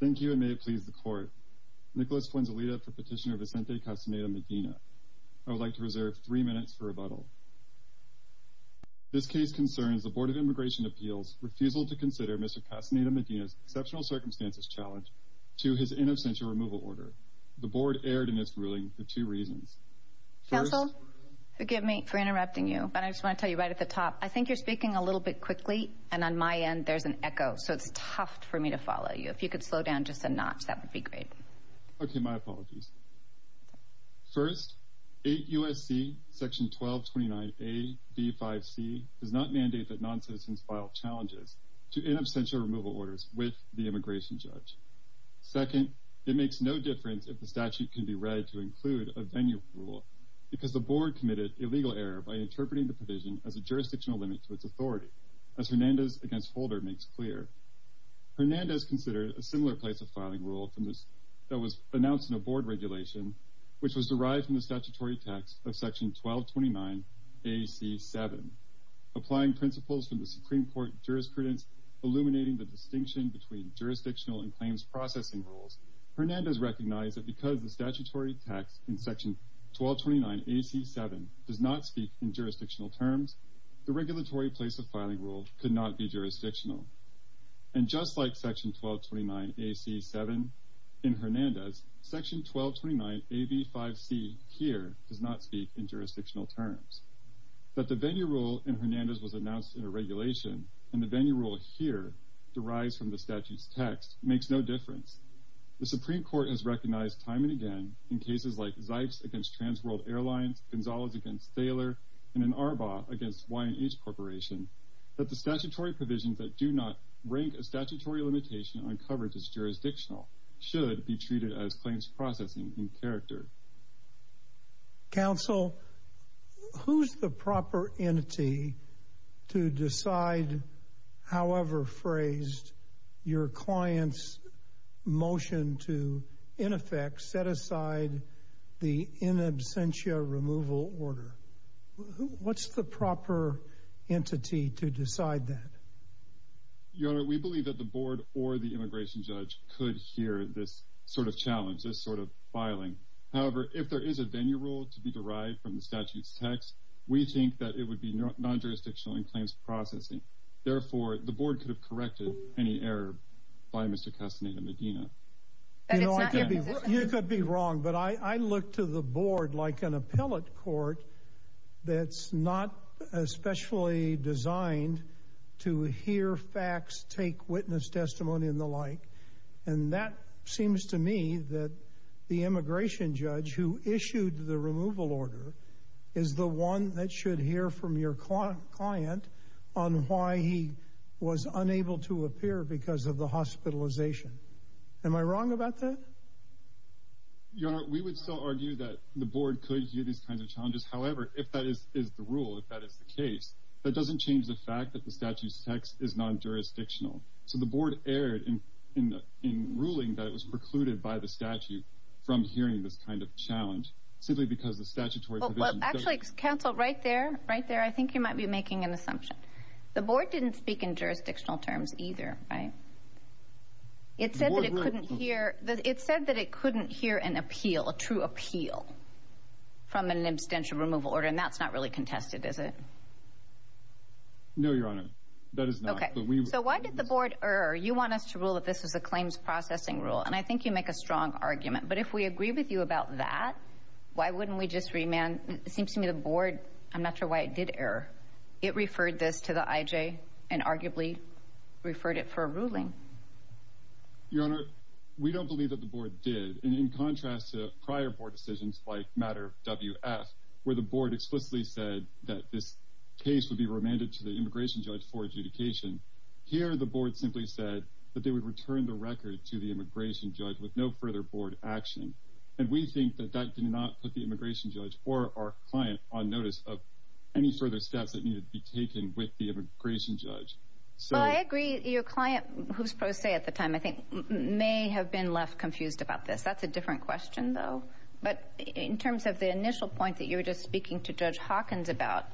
Thank you and may it please the court. Nicholas Flanzolita for petitioner Vicente Castaneda Medina. I would like to reserve three minutes for rebuttal. This case concerns the Board of Immigration Appeals refusal to consider Mr. Castaneda Medina's exceptional circumstances challenge to his inauspicious removal order. The board erred in its ruling for two reasons. Council, forgive me for interrupting you but I just want to tell you right at the top I think you're speaking a little bit quickly and on my end there's an echo so it's tough for me to follow you. If you could slow down just a notch that would be great. Okay, my apologies. First, 8 U.S.C. section 1229 A.B.5.C. does not mandate that non-citizens file challenges to in absentia removal orders with the immigration judge. Second, it makes no difference if the statute can be read to include a venue rule because the board committed illegal error by interpreting the provision as a jurisdictional limit to its authority. As Hernandez considered a similar place of filing rule from this that was announced in a board regulation which was derived from the statutory text of section 1229 A.C. 7. Applying principles from the Supreme Court jurisprudence illuminating the distinction between jurisdictional and claims processing rules, Hernandez recognized that because the statutory text in section 1229 A.C. 7 does not speak in jurisdictional terms, the regulatory place of filing rule could not be jurisdictional. And just like section 1229 A.C. 7 in Hernandez, section 1229 A.B.5.C. here does not speak in jurisdictional terms. That the venue rule in Hernandez was announced in a regulation and the venue rule here derives from the statute's text makes no difference. The Supreme Court has recognized time and again in cases like Zipes against Transworld Airlines, Gonzales against Thaler, and in Arbaugh against Y&H Corporation that the statutory provisions that do not rank a statutory limitation on coverage as jurisdictional should be treated as claims processing in character. Counsel, who's the proper entity to decide however phrased your client's motion to in effect set aside the in absentia removal order? What's the proper entity to decide that? Your Honor, we believe that the board or the immigration judge could hear this sort of challenge, this sort of filing. However, if there is a venue rule to be derived from the statute's text, we think that it would be non jurisdictional in claims processing. Therefore, the board could have corrected any error by Mr Castaneda Medina. You could be wrong, but I look to the board like an appellate court that's not especially designed to hear facts, take witness testimony and the like. And that seems to me that the immigration judge who issued the removal order is the one that should hear from your client on why he was unable to appear because of hospitalization. Am I wrong about that? Your Honor, we would still argue that the board could hear these kinds of challenges. However, if that is the rule, if that is the case, that doesn't change the fact that the statute's text is non jurisdictional. So the board erred in ruling that it was precluded by the statute from hearing this kind of challenge simply because the statutory... Actually, counsel, right there, right there, I think you might be making an assumption. The board didn't speak in jurisdictional terms either, right? It said that it couldn't hear, it said that it couldn't hear an appeal, a true appeal from an abstention removal order, and that's not really contested, is it? No, Your Honor, that is not. Okay, so why did the board err? You want us to rule that this is a claims processing rule, and I think you make a strong argument, but if we agree with you about that, why wouldn't we just remand? It seems to me the board, I'm not sure why it did err, it referred this to the IJ and arguably referred it for a ruling. Your Honor, we don't believe that the board did, and in contrast to prior board decisions like matter WF, where the board explicitly said that this case would be remanded to the immigration judge for adjudication. Here, the board simply said that they would return the record to the immigration judge with no further board action, and we think that that did not put the immigration judge or our client on notice of any further steps that needed to be taken with the immigration judge. Well, I agree, your client, who's pro se at the time, I think may have been left confused about this. That's a different question, though. But in terms of the initial point that you were just speaking to Judge Hawkins about,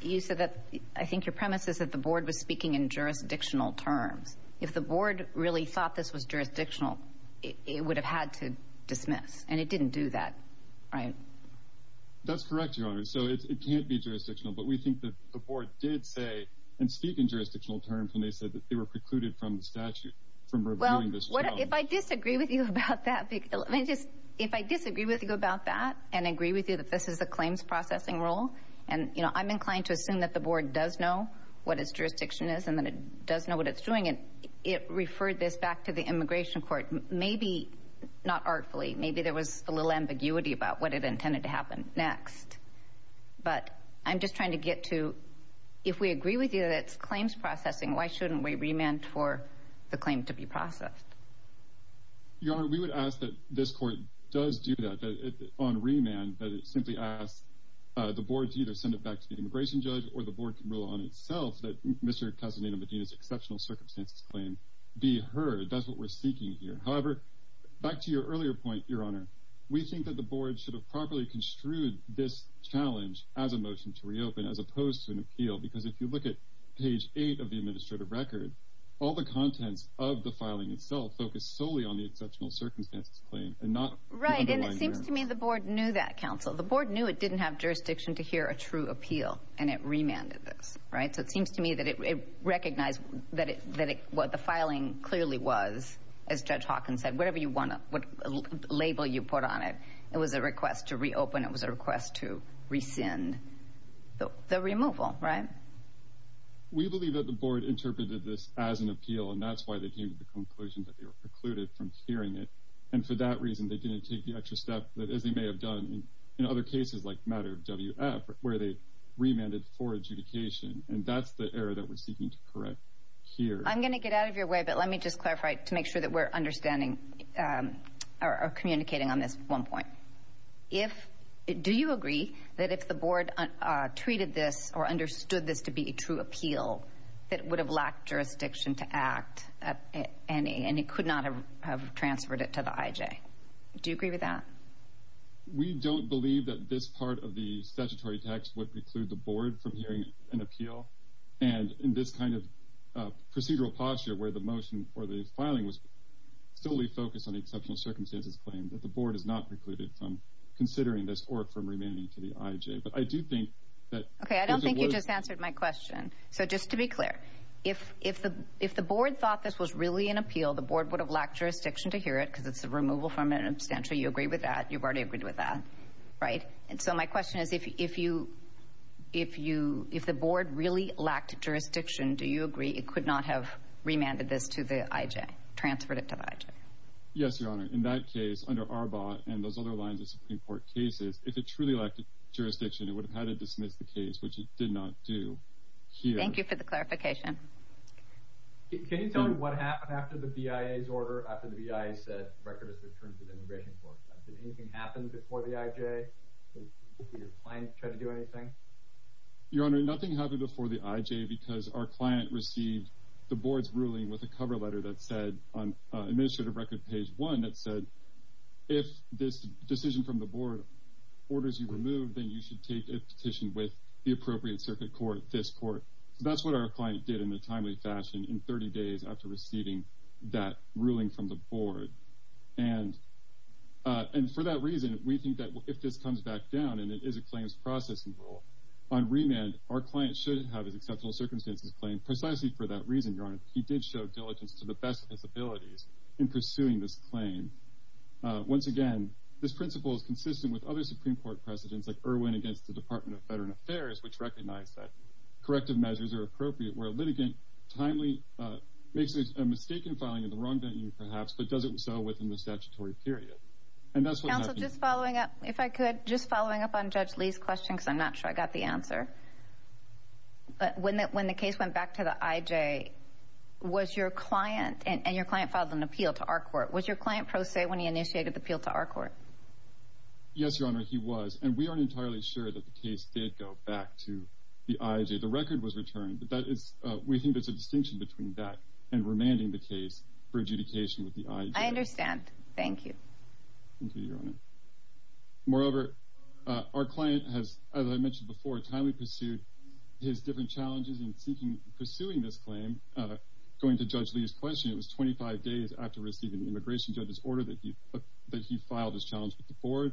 you said that, I think your premise is that the board was speaking in jurisdictional terms. If the board really thought this was jurisdictional, it would have had to dismiss, and it didn't do that, right? That's correct, your Honor. So it can't be jurisdictional, but we think that the board did say and speak in jurisdictional terms when they said that they were precluded from the statute from reviewing this. Well, if I disagree with you about that, let me just... If I disagree with you about that and agree with you that this is a claims processing rule, and I'm inclined to assume that the board does know what its jurisdiction is and that it does know what it's doing, it referred this back to the immigration court, maybe not artfully, maybe there was a little ambiguity about what it intended to happen next. But I'm just trying to get to... If we agree with you that it's claims processing, why shouldn't we remand for the claim to be processed? Your Honor, we would ask that this court does do that, on remand, that it simply asks the board to either send it back to the immigration judge or the board can rule on itself that Mr. Casaneda Medina's exceptional circumstances claim be heard. That's what we're seeking here. However, back to your earlier point, Your Honor, we think that the board should have properly construed this challenge as a motion to reopen as opposed to an appeal, because if you look at page eight of the administrative record, all the contents of the filing itself focus solely on the exceptional circumstances claim and not... Right, and it seems to me the board knew that, counsel. The board knew it didn't have jurisdiction to hear a true appeal and it remanded this, right? So it seems to me that it recognized that what the filing clearly was, as Judge Hawkins said, whatever you label you put on it, it was a request to reopen, it was a request to rescind the removal, right? We believe that the board interpreted this as an appeal and that's why they came to the conclusion that they were precluded from hearing it. And for that reason, they didn't take the extra step that, as they may have done in other cases, like matter of WF, where they remanded for adjudication. And that's the error that we're seeking to correct here. I'm gonna get out of your way, but let me just clarify to make sure that we're understanding or communicating on this one point. Do you agree that if the board treated this or understood this to be a true appeal, that it would have lacked jurisdiction to act at any and it could not have transferred it to the IJ? Do you agree with that? We don't believe that this part of the statutory text would preclude the board from hearing an appeal and in this kind of procedural posture where the motion for the filing was solely focused on the exceptional circumstances claim, that the board has not precluded from considering this or from remanding to the IJ. But I do think that... Okay, I don't think you just answered my question. So just to be clear, if the board thought this was really an appeal, the board would have lacked jurisdiction to hear it, because it's a removal from an abstention. You agree with that? You've already agreed with that, right? And so my question is, if the board really lacked jurisdiction, do you agree it could not have remanded this to the IJ, transferred it to the IJ? Yes, Your Honor. In that case, under Arbaugh and those other lines of Supreme Court cases, if it truly lacked jurisdiction, it would have had to dismiss the case, which it did not do here. Thank you for the clarification. Can you tell me what happened after the BIA's order, after the BIA said the record is returned to the Immigration Court? Did anything happen before the IJ? Did your client try to do anything? Your Honor, nothing happened before the IJ, because our client received the board's ruling with a cover letter that said, on administrative record page one, that said, if this decision from the board orders you removed, then you should take a petition with the appropriate circuit court, this court. That's what our client did in a timely fashion in 30 days after receiving that ruling from the board. And for that reason, we think that if this comes back down, and it is a claims processing rule, on remand, our client shouldn't have his exceptional circumstances claim precisely for that reason, Your Honor. He did show diligence to the best of his abilities in pursuing this claim. Once again, this principle is consistent with other Supreme Court precedents, like Irwin against the Department of Veteran Affairs, which recognized that corrective measures are appropriate, where a litigant timely makes a mistake in filing in the wrong venue, perhaps, but does it so within the statutory period. And that's what... Counsel, just following up, if I could, just following up on Judge Lee's question, because I'm not sure I got the answer. But when the case went back to the IJ, was your client, and your client filed an appeal to our court, was your client pro se when he initiated the appeal to our court? Yes, Your Honor, he was. And we aren't entirely sure that the case did go back to the IJ. The record was returned, but that is... We think there's a distinction between that and remanding the case for adjudication with the IJ. I understand. Thank you. Thank you, Your Honor. Moreover, our client has, as I mentioned before, timely pursued his different challenges in seeking... Pursuing this claim, going to Judge Lee's question, it was 25 days after receiving the immigration judge's order that he filed his challenge with the board.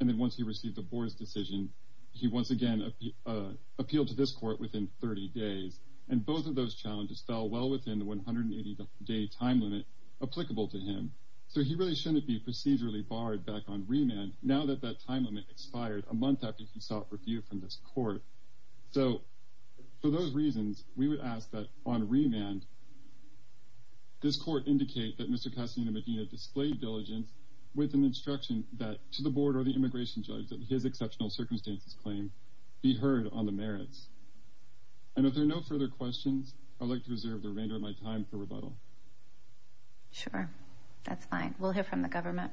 And then once he received the board's decision, he once again appealed to this court within 30 days. And both of those challenges fell well within the 180 day time limit applicable to him. So he really shouldn't be procedurally barred back on remand now that that time limit expired a month after he sought review from this court. So for those reasons, we would ask that on remand, this court indicate that Mr. Castaneda-Medina displayed diligence with an instruction that to the board or the immigration judge that his exceptional circumstances claim be heard on the merits. And if there are no further questions, I'd like to reserve the remainder of my time for rebuttal. Sure, that's fine. We'll hear from the government.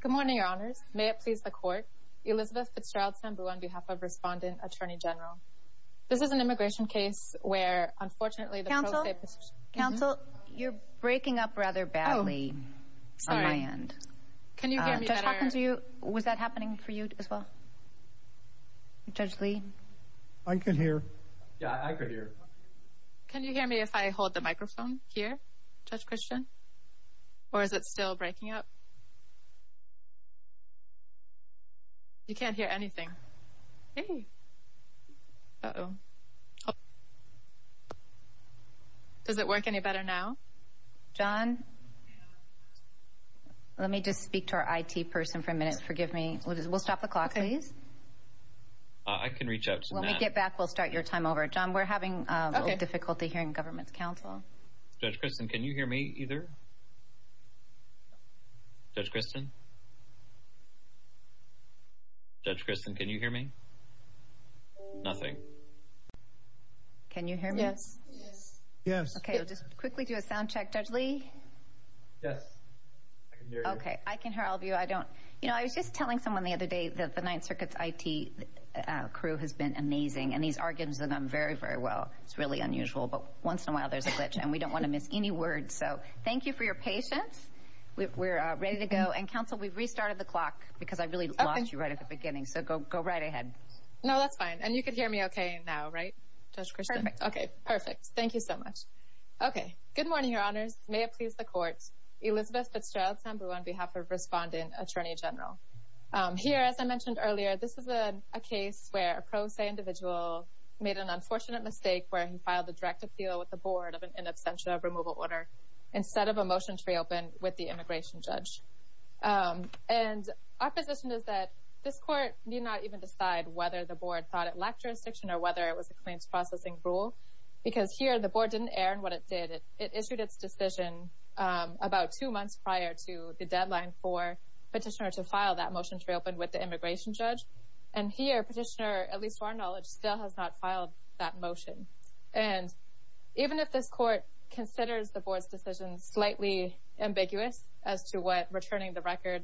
Good morning, your honors. May it please the court. Elizabeth Fitzgerald Sambu on behalf of Respondent Attorney General. This is an immigration case where unfortunately... Counsel? Counsel? You're breaking up rather badly on my end. Sorry. Can you hear me better? Judge Hawkins, was that happening for you as well? Judge Lee? I can hear. Yeah, I could hear. Can you hear me if I hold the microphone here, Judge Christian? Or is it still breaking up? You can't hear anything. Does it work any better now? John? Let me just speak to our IT person for a minute. Forgive me. We'll stop the clock, please. I can reach out to them. When we get back, we'll start your time over. John, we're having a little difficulty hearing the government's counsel. Judge Christian, can you hear me either? Judge Christian? Judge Christian, can you hear me? Nothing. Can you hear me? Yes. Yes. Okay, we'll just quickly do a sound check. Judge Lee? Yes, I can hear you. Okay, I can hear all of you. I don't... I was just telling someone the other day that the Ninth Circuit's IT crew has been amazing, and he's arguing with them very, very well. It's really unusual, but once in a while, there's a glitch, and we don't wanna miss any words. So thank you for your patience. We're ready to go. And counsel, we've restarted the clock because I really lost you right at the beginning, so go right ahead. No, that's fine. And you can hear me okay now, right, Judge Christian? Perfect. Okay, perfect. Thank you so much. Okay. Good morning, Your Honors. May it please the court. Elizabeth Fitzgerald Sambrou on behalf of Respondent Attorney General. Here, as I mentioned earlier, this is a case where a pro se individual made an unfortunate mistake where he filed a direct appeal with the board of an in absentia removal order instead of a motion to reopen with the immigration judge. And our position is that this court need not even decide whether the board thought it lacked jurisdiction or whether it was a claims processing rule, because here, the board didn't err in what it did. It issued its decision about two months prior to the deadline for petitioner to file that motion to reopen with the immigration judge. And here, petitioner, at least to our knowledge, still has not filed that motion. And even if this court considers the board's decision slightly ambiguous as to what returning the record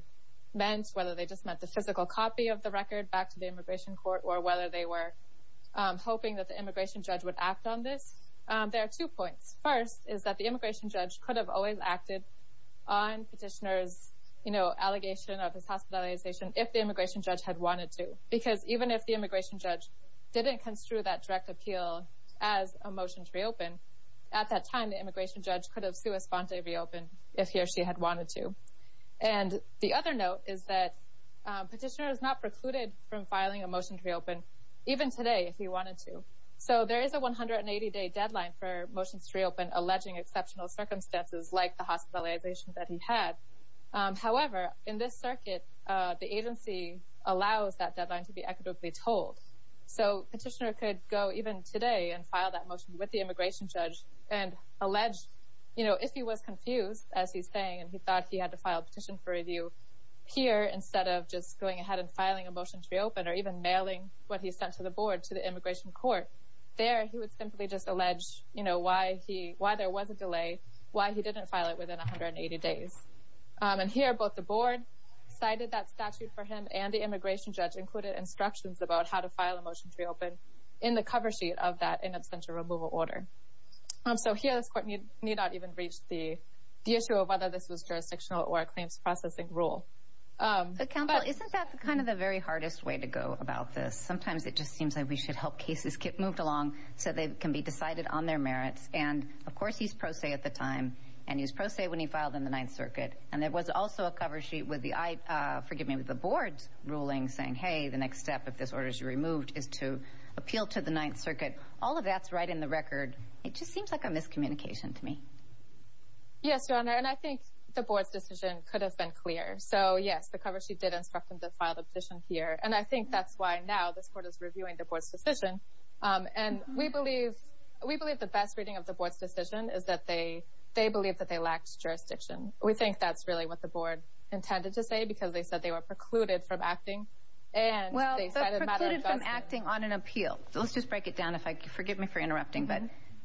meant, whether they just meant the physical copy of the record back to the immigration court or whether they were hoping that the immigration judge would act on this, there are two points. First is that the immigration judge could have always acted on petitioner's, you know, allegation of his hospitalization if the immigration judge had wanted to. Because even if the immigration judge didn't construe that direct appeal as a motion to reopen, at that time, the immigration judge could have sui sponte reopened if he or she had wanted to. And the other note is that petitioner is not precluded from filing a motion to reopen, even today, if he wanted to. So there is a 180 day deadline for motions to reopen alleging exceptional circumstances like the hospitalization that he had. However, in this circuit, the agency allows that deadline to be equitably told. So petitioner could go even today and file that motion with the immigration judge and allege, you know, if he was confused, as he's saying, and he thought he had to file a petition for review here instead of just going ahead and filing a motion to reopen or even mailing what he sent to the board to the immigration court there, he would simply just allege, you days. Um, and here both the board cited that statute for him and the immigration judge included instructions about how to file a motion to reopen in the cover sheet of that in absentia removal order. Um, so here this court need need not even reach the issue of whether this was jurisdictional or claims processing rule. Um, isn't that kind of the very hardest way to go about this? Sometimes it just seems like we should help cases get moved along so they can be decided on their merits. And of course, he's pro se at the time and he's pro se when he filed in the Ninth Circuit. And there was also a cover sheet with the, uh, forgive me, with the board's ruling saying, hey, the next step if this order is removed is to appeal to the Ninth Circuit. All of that's right in the record. It just seems like a miscommunication to me. Yes, Your Honor. And I think the board's decision could have been clear. So yes, the cover. She did instruct him to file the position here. And I think that's why now this court is reviewing the board's decision. Um, and we they believe that they lacked jurisdiction. We think that's really what the board intended to say, because they said they were precluded from acting and well, they decided about acting on an appeal. Let's just break it down. If I forgive me for interrupting, but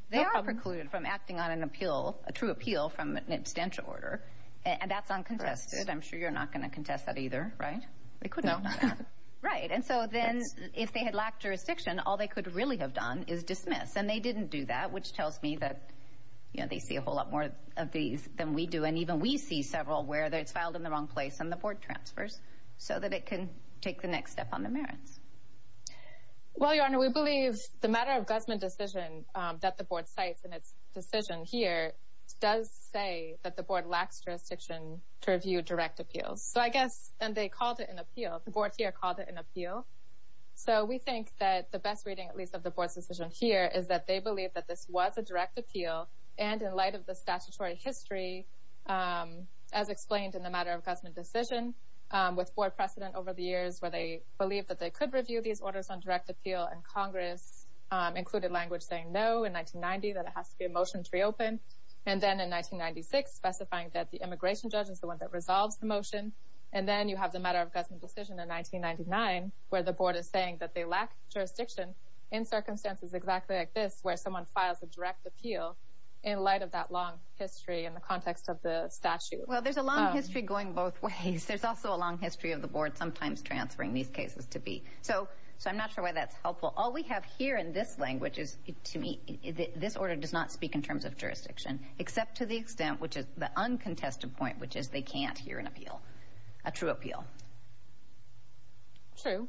they are precluded from acting on an appeal, a true appeal from an abstention order. And that's uncontested. I'm sure you're not going to contest that either, right? They could know. Right. And so then if they had lacked jurisdiction, all they could really have done is dismiss. And they didn't do that, which tells me that, you know, they see a whole lot more of these than we do. And even we see several where it's filed in the wrong place and the board transfers so that it can take the next step on the merits. Well, Your Honor, we believe the matter of Gusman decision that the board sites in its decision here does say that the board lacks jurisdiction to review direct appeals. So I guess and they called it an appeal. The board here called it an appeal. So we think that the best reading, at least of the board's decision here, is that they believe that this was a direct appeal. And in light of the statutory history, as explained in the matter of Gusman decision, with board precedent over the years where they believe that they could review these orders on direct appeal and Congress included language saying no in 1990, that it has to be a motion to reopen. And then in 1996, specifying that the immigration judge is the one that resolves the motion. And then you have the matter of Gusman decision in 1999, where the board is saying that they lack jurisdiction in circumstances exactly like this, where someone files a direct appeal in light of that long history in the context of the statute. Well, there's a long history going both ways. There's also a long history of the board sometimes transferring these cases to be so. So I'm not sure why that's helpful. All we have here in this language is to me, this order does not speak in terms of jurisdiction, except to the extent which is the uncontested point, which is they can't hear an appeal, a true appeal. True.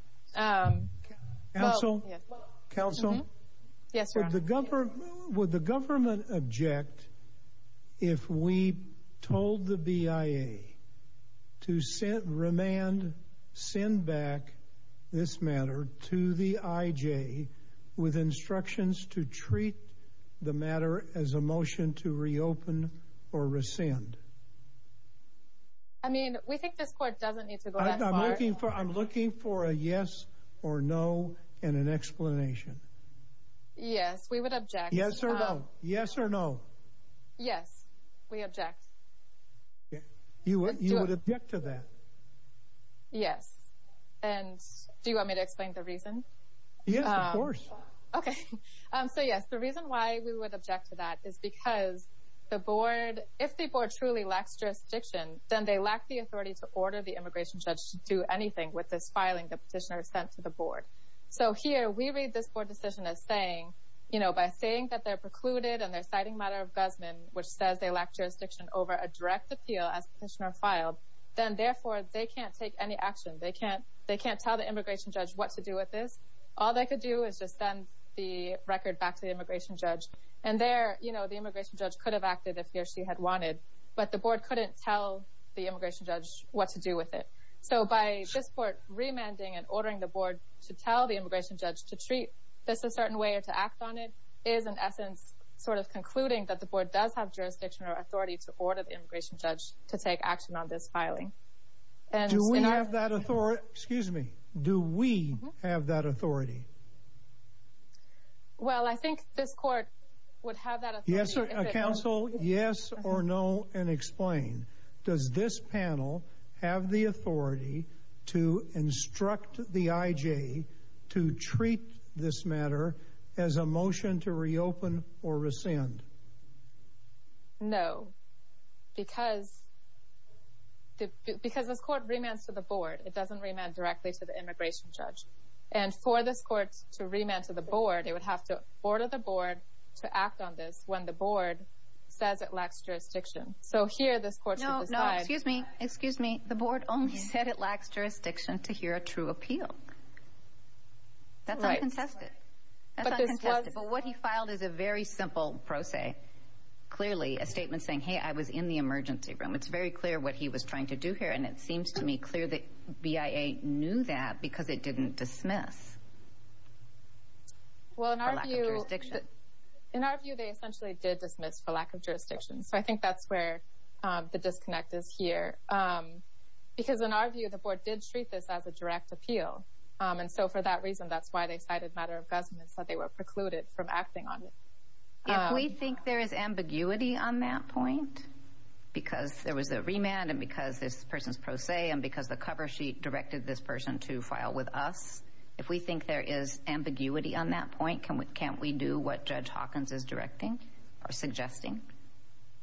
Counsel? Counsel? Yes, Your Honor. Would the government object if we told the BIA to remand, send back this matter to the IJ with instructions to treat the matter as a motion to reopen or rescind? I mean, we think this court doesn't need to go that far. I'm looking for a yes or no and an explanation. Yes, we would object. Yes or no? Yes, we object. You would object to that? Yes. And do you want me to explain the reason? Yes, of course. Okay. So yes, the reason why we would object to that is because the board, if the board truly lacks jurisdiction, then they lack the authority to order the immigration judge to do anything with this filing the petitioner sent to the board. So here, we read this board decision as saying, you know, by saying that they're precluded and they're citing matter of Guzman, which says they lack jurisdiction over a direct appeal as petitioner filed, then therefore they can't take any action. They can't tell the immigration judge what to do with this. All they could do is just send the record back to the immigration judge. And there, you know, the immigration judge could have acted if he or she had wanted, but the board couldn't tell the immigration judge what to do with it. So by this court remanding and ordering the board to tell the immigration judge to treat this a certain way or to act on it is, in essence, sort of concluding that the board does have jurisdiction or authority to order the immigration judge to take action on this filing. And do we have that authority? Excuse me. Do we have that authority? Well, I think this court would have that. Yes, sir. Council. Yes or no. And explain. Does this panel have the authority to instruct the I. J. To because this court remains to the board. It doesn't remain directly to the immigration judge. And for this court to remain to the board, it would have to order the board to act on this when the board says it lacks jurisdiction. So here this court. No, no. Excuse me. Excuse me. The board only said it lacks jurisdiction to hear a true appeal. That's right. But what he filed is a very simple pro se. Clearly a statement saying, Hey, I was in the emergency room. It's very clear what he was trying to do here. And it seems to me clear that B. I. A. Knew that because it didn't dismiss. Well, in our view, in our view, they essentially did dismiss for lack of jurisdiction. So I think that's where the disconnect is here. Um, because in our view, the board did treat this as a direct appeal. Um, and so for that reason, that's why they cited matter of Gusman said they were precluded from acting on it. We think there is ambiguity on that point because there was the remand and because this person's pro se and because the cover sheet directed this person to file with us. If we think there is ambiguity on that point, can we can't we do what Judge Hawkins is directing or suggesting?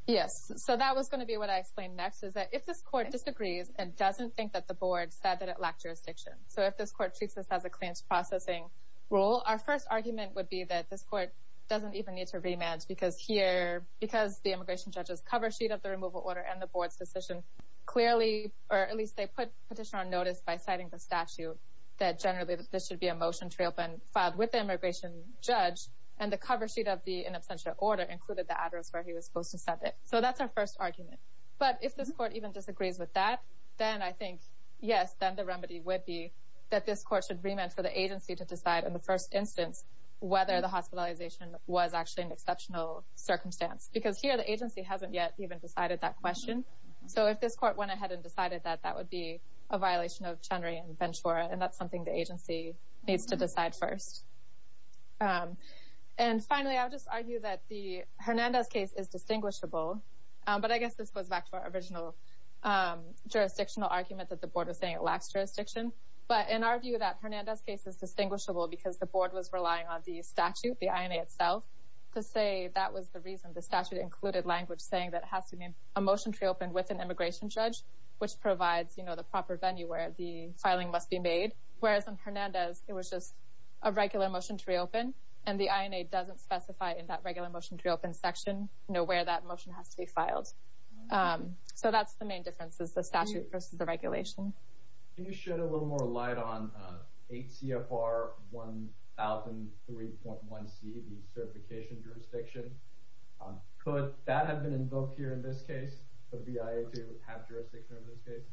Yes. So that was gonna be what I explained next is that if this court disagrees and doesn't think that the board said that it lacked jurisdiction. So if this court treats this as a claims processing role, our first argument would be that this court doesn't even need to rematch because here because the immigration judge's cover sheet of the removal order and the board's decision clearly or at least they put petition on notice by citing the statute that generally this should be a motion to reopen filed with the immigration judge and the cover sheet of the in absentia order included the address where he was supposed to set it. So that's our first argument. But if this court even disagrees with that, then I think yes, then the remedy would be that this court should remand for the agency to decide in the first instance whether the hospitalization was actually an exceptional circumstance. Because here the agency hasn't yet even decided that question. So if this court went ahead and decided that that would be a violation of Chenry and Ventura and that's something the agency needs to decide first. And finally, I'll just argue that the Hernandez case is distinguishable, but I guess this goes back to our original jurisdictional argument that the board was saying it lacks jurisdiction. But in our view that Hernandez case is distinguishable because the board was relying on the statute, the INA itself, to say that was the reason the statute included language saying that it has to be a motion to reopen with an immigration judge, which provides, you know, the proper venue where the filing must be made. Whereas in Hernandez, it was just a regular motion to reopen and the INA doesn't specify in that regular motion to reopen section, you know, where that motion has to be filed. So that's the main difference is the statute versus the regulation. Can you shed a little more light on 8 CFR 1003.1C, the certification jurisdiction? Could that have been invoked here in this case for the BIA to have jurisdiction in this case?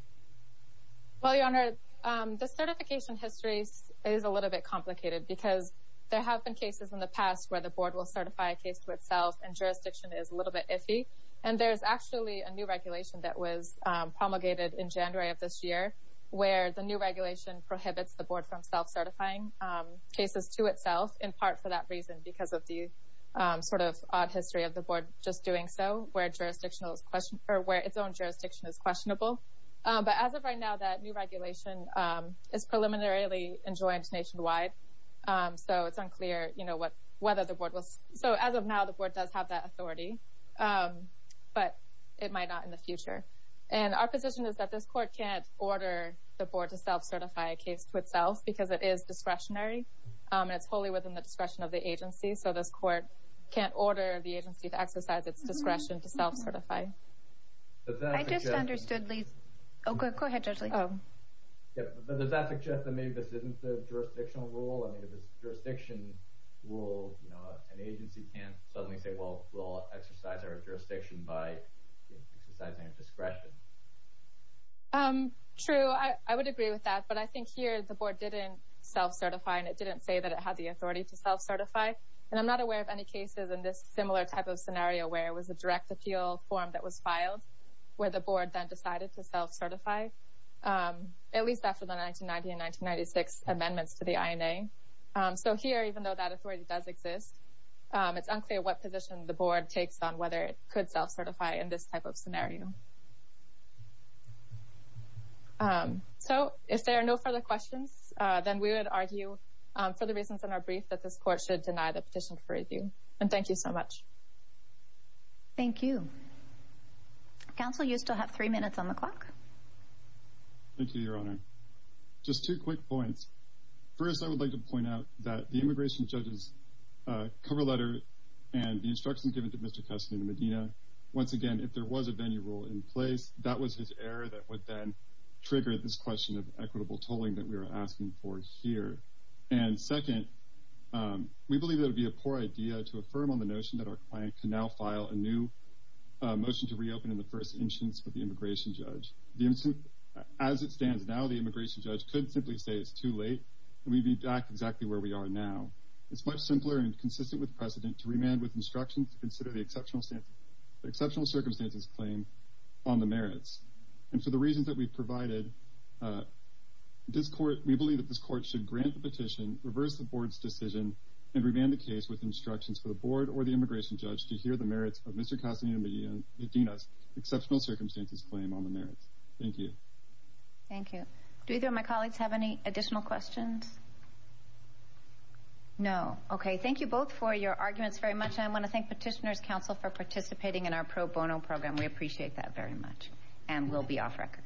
Well, Your Honor, the certification history is a little bit complicated because there have been cases in the past where the board will certify a case to itself and jurisdiction is a little bit iffy. And there's actually a new history of this year where the new regulation prohibits the board from self-certifying cases to itself, in part for that reason, because of the sort of odd history of the board just doing so, where its own jurisdiction is questionable. But as of right now, that new regulation is preliminarily enjoined nationwide. So it's unclear, you know, whether the board will. So as of now, the board does have that authority, but it might not in the future. And our court can't order the board to self-certify a case to itself because it is discretionary. And it's wholly within the discretion of the agency. So this court can't order the agency to exercise its discretion to self-certify. I just understood, Lee. Oh, go ahead, Judge Lee. Does that suggest that maybe this isn't the jurisdictional rule? I mean, if it's jurisdiction rule, you know, an agency can't suddenly say, well, we'll exercise our jurisdiction by exercising a discretion. True, I would agree with that. But I think here the board didn't self-certify, and it didn't say that it had the authority to self-certify. And I'm not aware of any cases in this similar type of scenario where it was a direct appeal form that was filed, where the board then decided to self-certify, at least after the 1990 and 1996 amendments to the INA. So here, even though that authority does exist, it's unclear what position the board takes on whether it could self-certify in this type of scenario. So if there are no further questions, then we would argue for the reasons in our brief that this court should deny the petition for review. And thank you so much. Thank you. Counsel, you still have three minutes on the clock. Thank you, Your Honor. Just two quick points. First, I would like to point out that the immigration judge's cover letter and the instruction given to Mr. Castaneda-Medina, once again, if there was a venue rule in place, that was his cover that would then trigger this question of equitable tolling that we were asking for here. And second, we believe it would be a poor idea to affirm on the notion that our client can now file a new motion to reopen in the first instance with the immigration judge. As it stands now, the immigration judge could simply say it's too late, and we'd be back exactly where we are now. It's much simpler and consistent with precedent to remand with instructions to consider the exceptional circumstances claim on the merits. And for the reasons that we've provided, we believe that this court should grant the petition, reverse the board's decision, and remand the case with instructions for the board or the immigration judge to hear the merits of Mr. Castaneda-Medina's exceptional circumstances claim on the merits. Thank you. Thank you. Do either of my colleagues have any additional questions? No. Okay. Thank you both for your arguments very much. I want to thank Petitioner's Counsel for participating in our pro bono program. We appreciate that very much, and we'll be off record.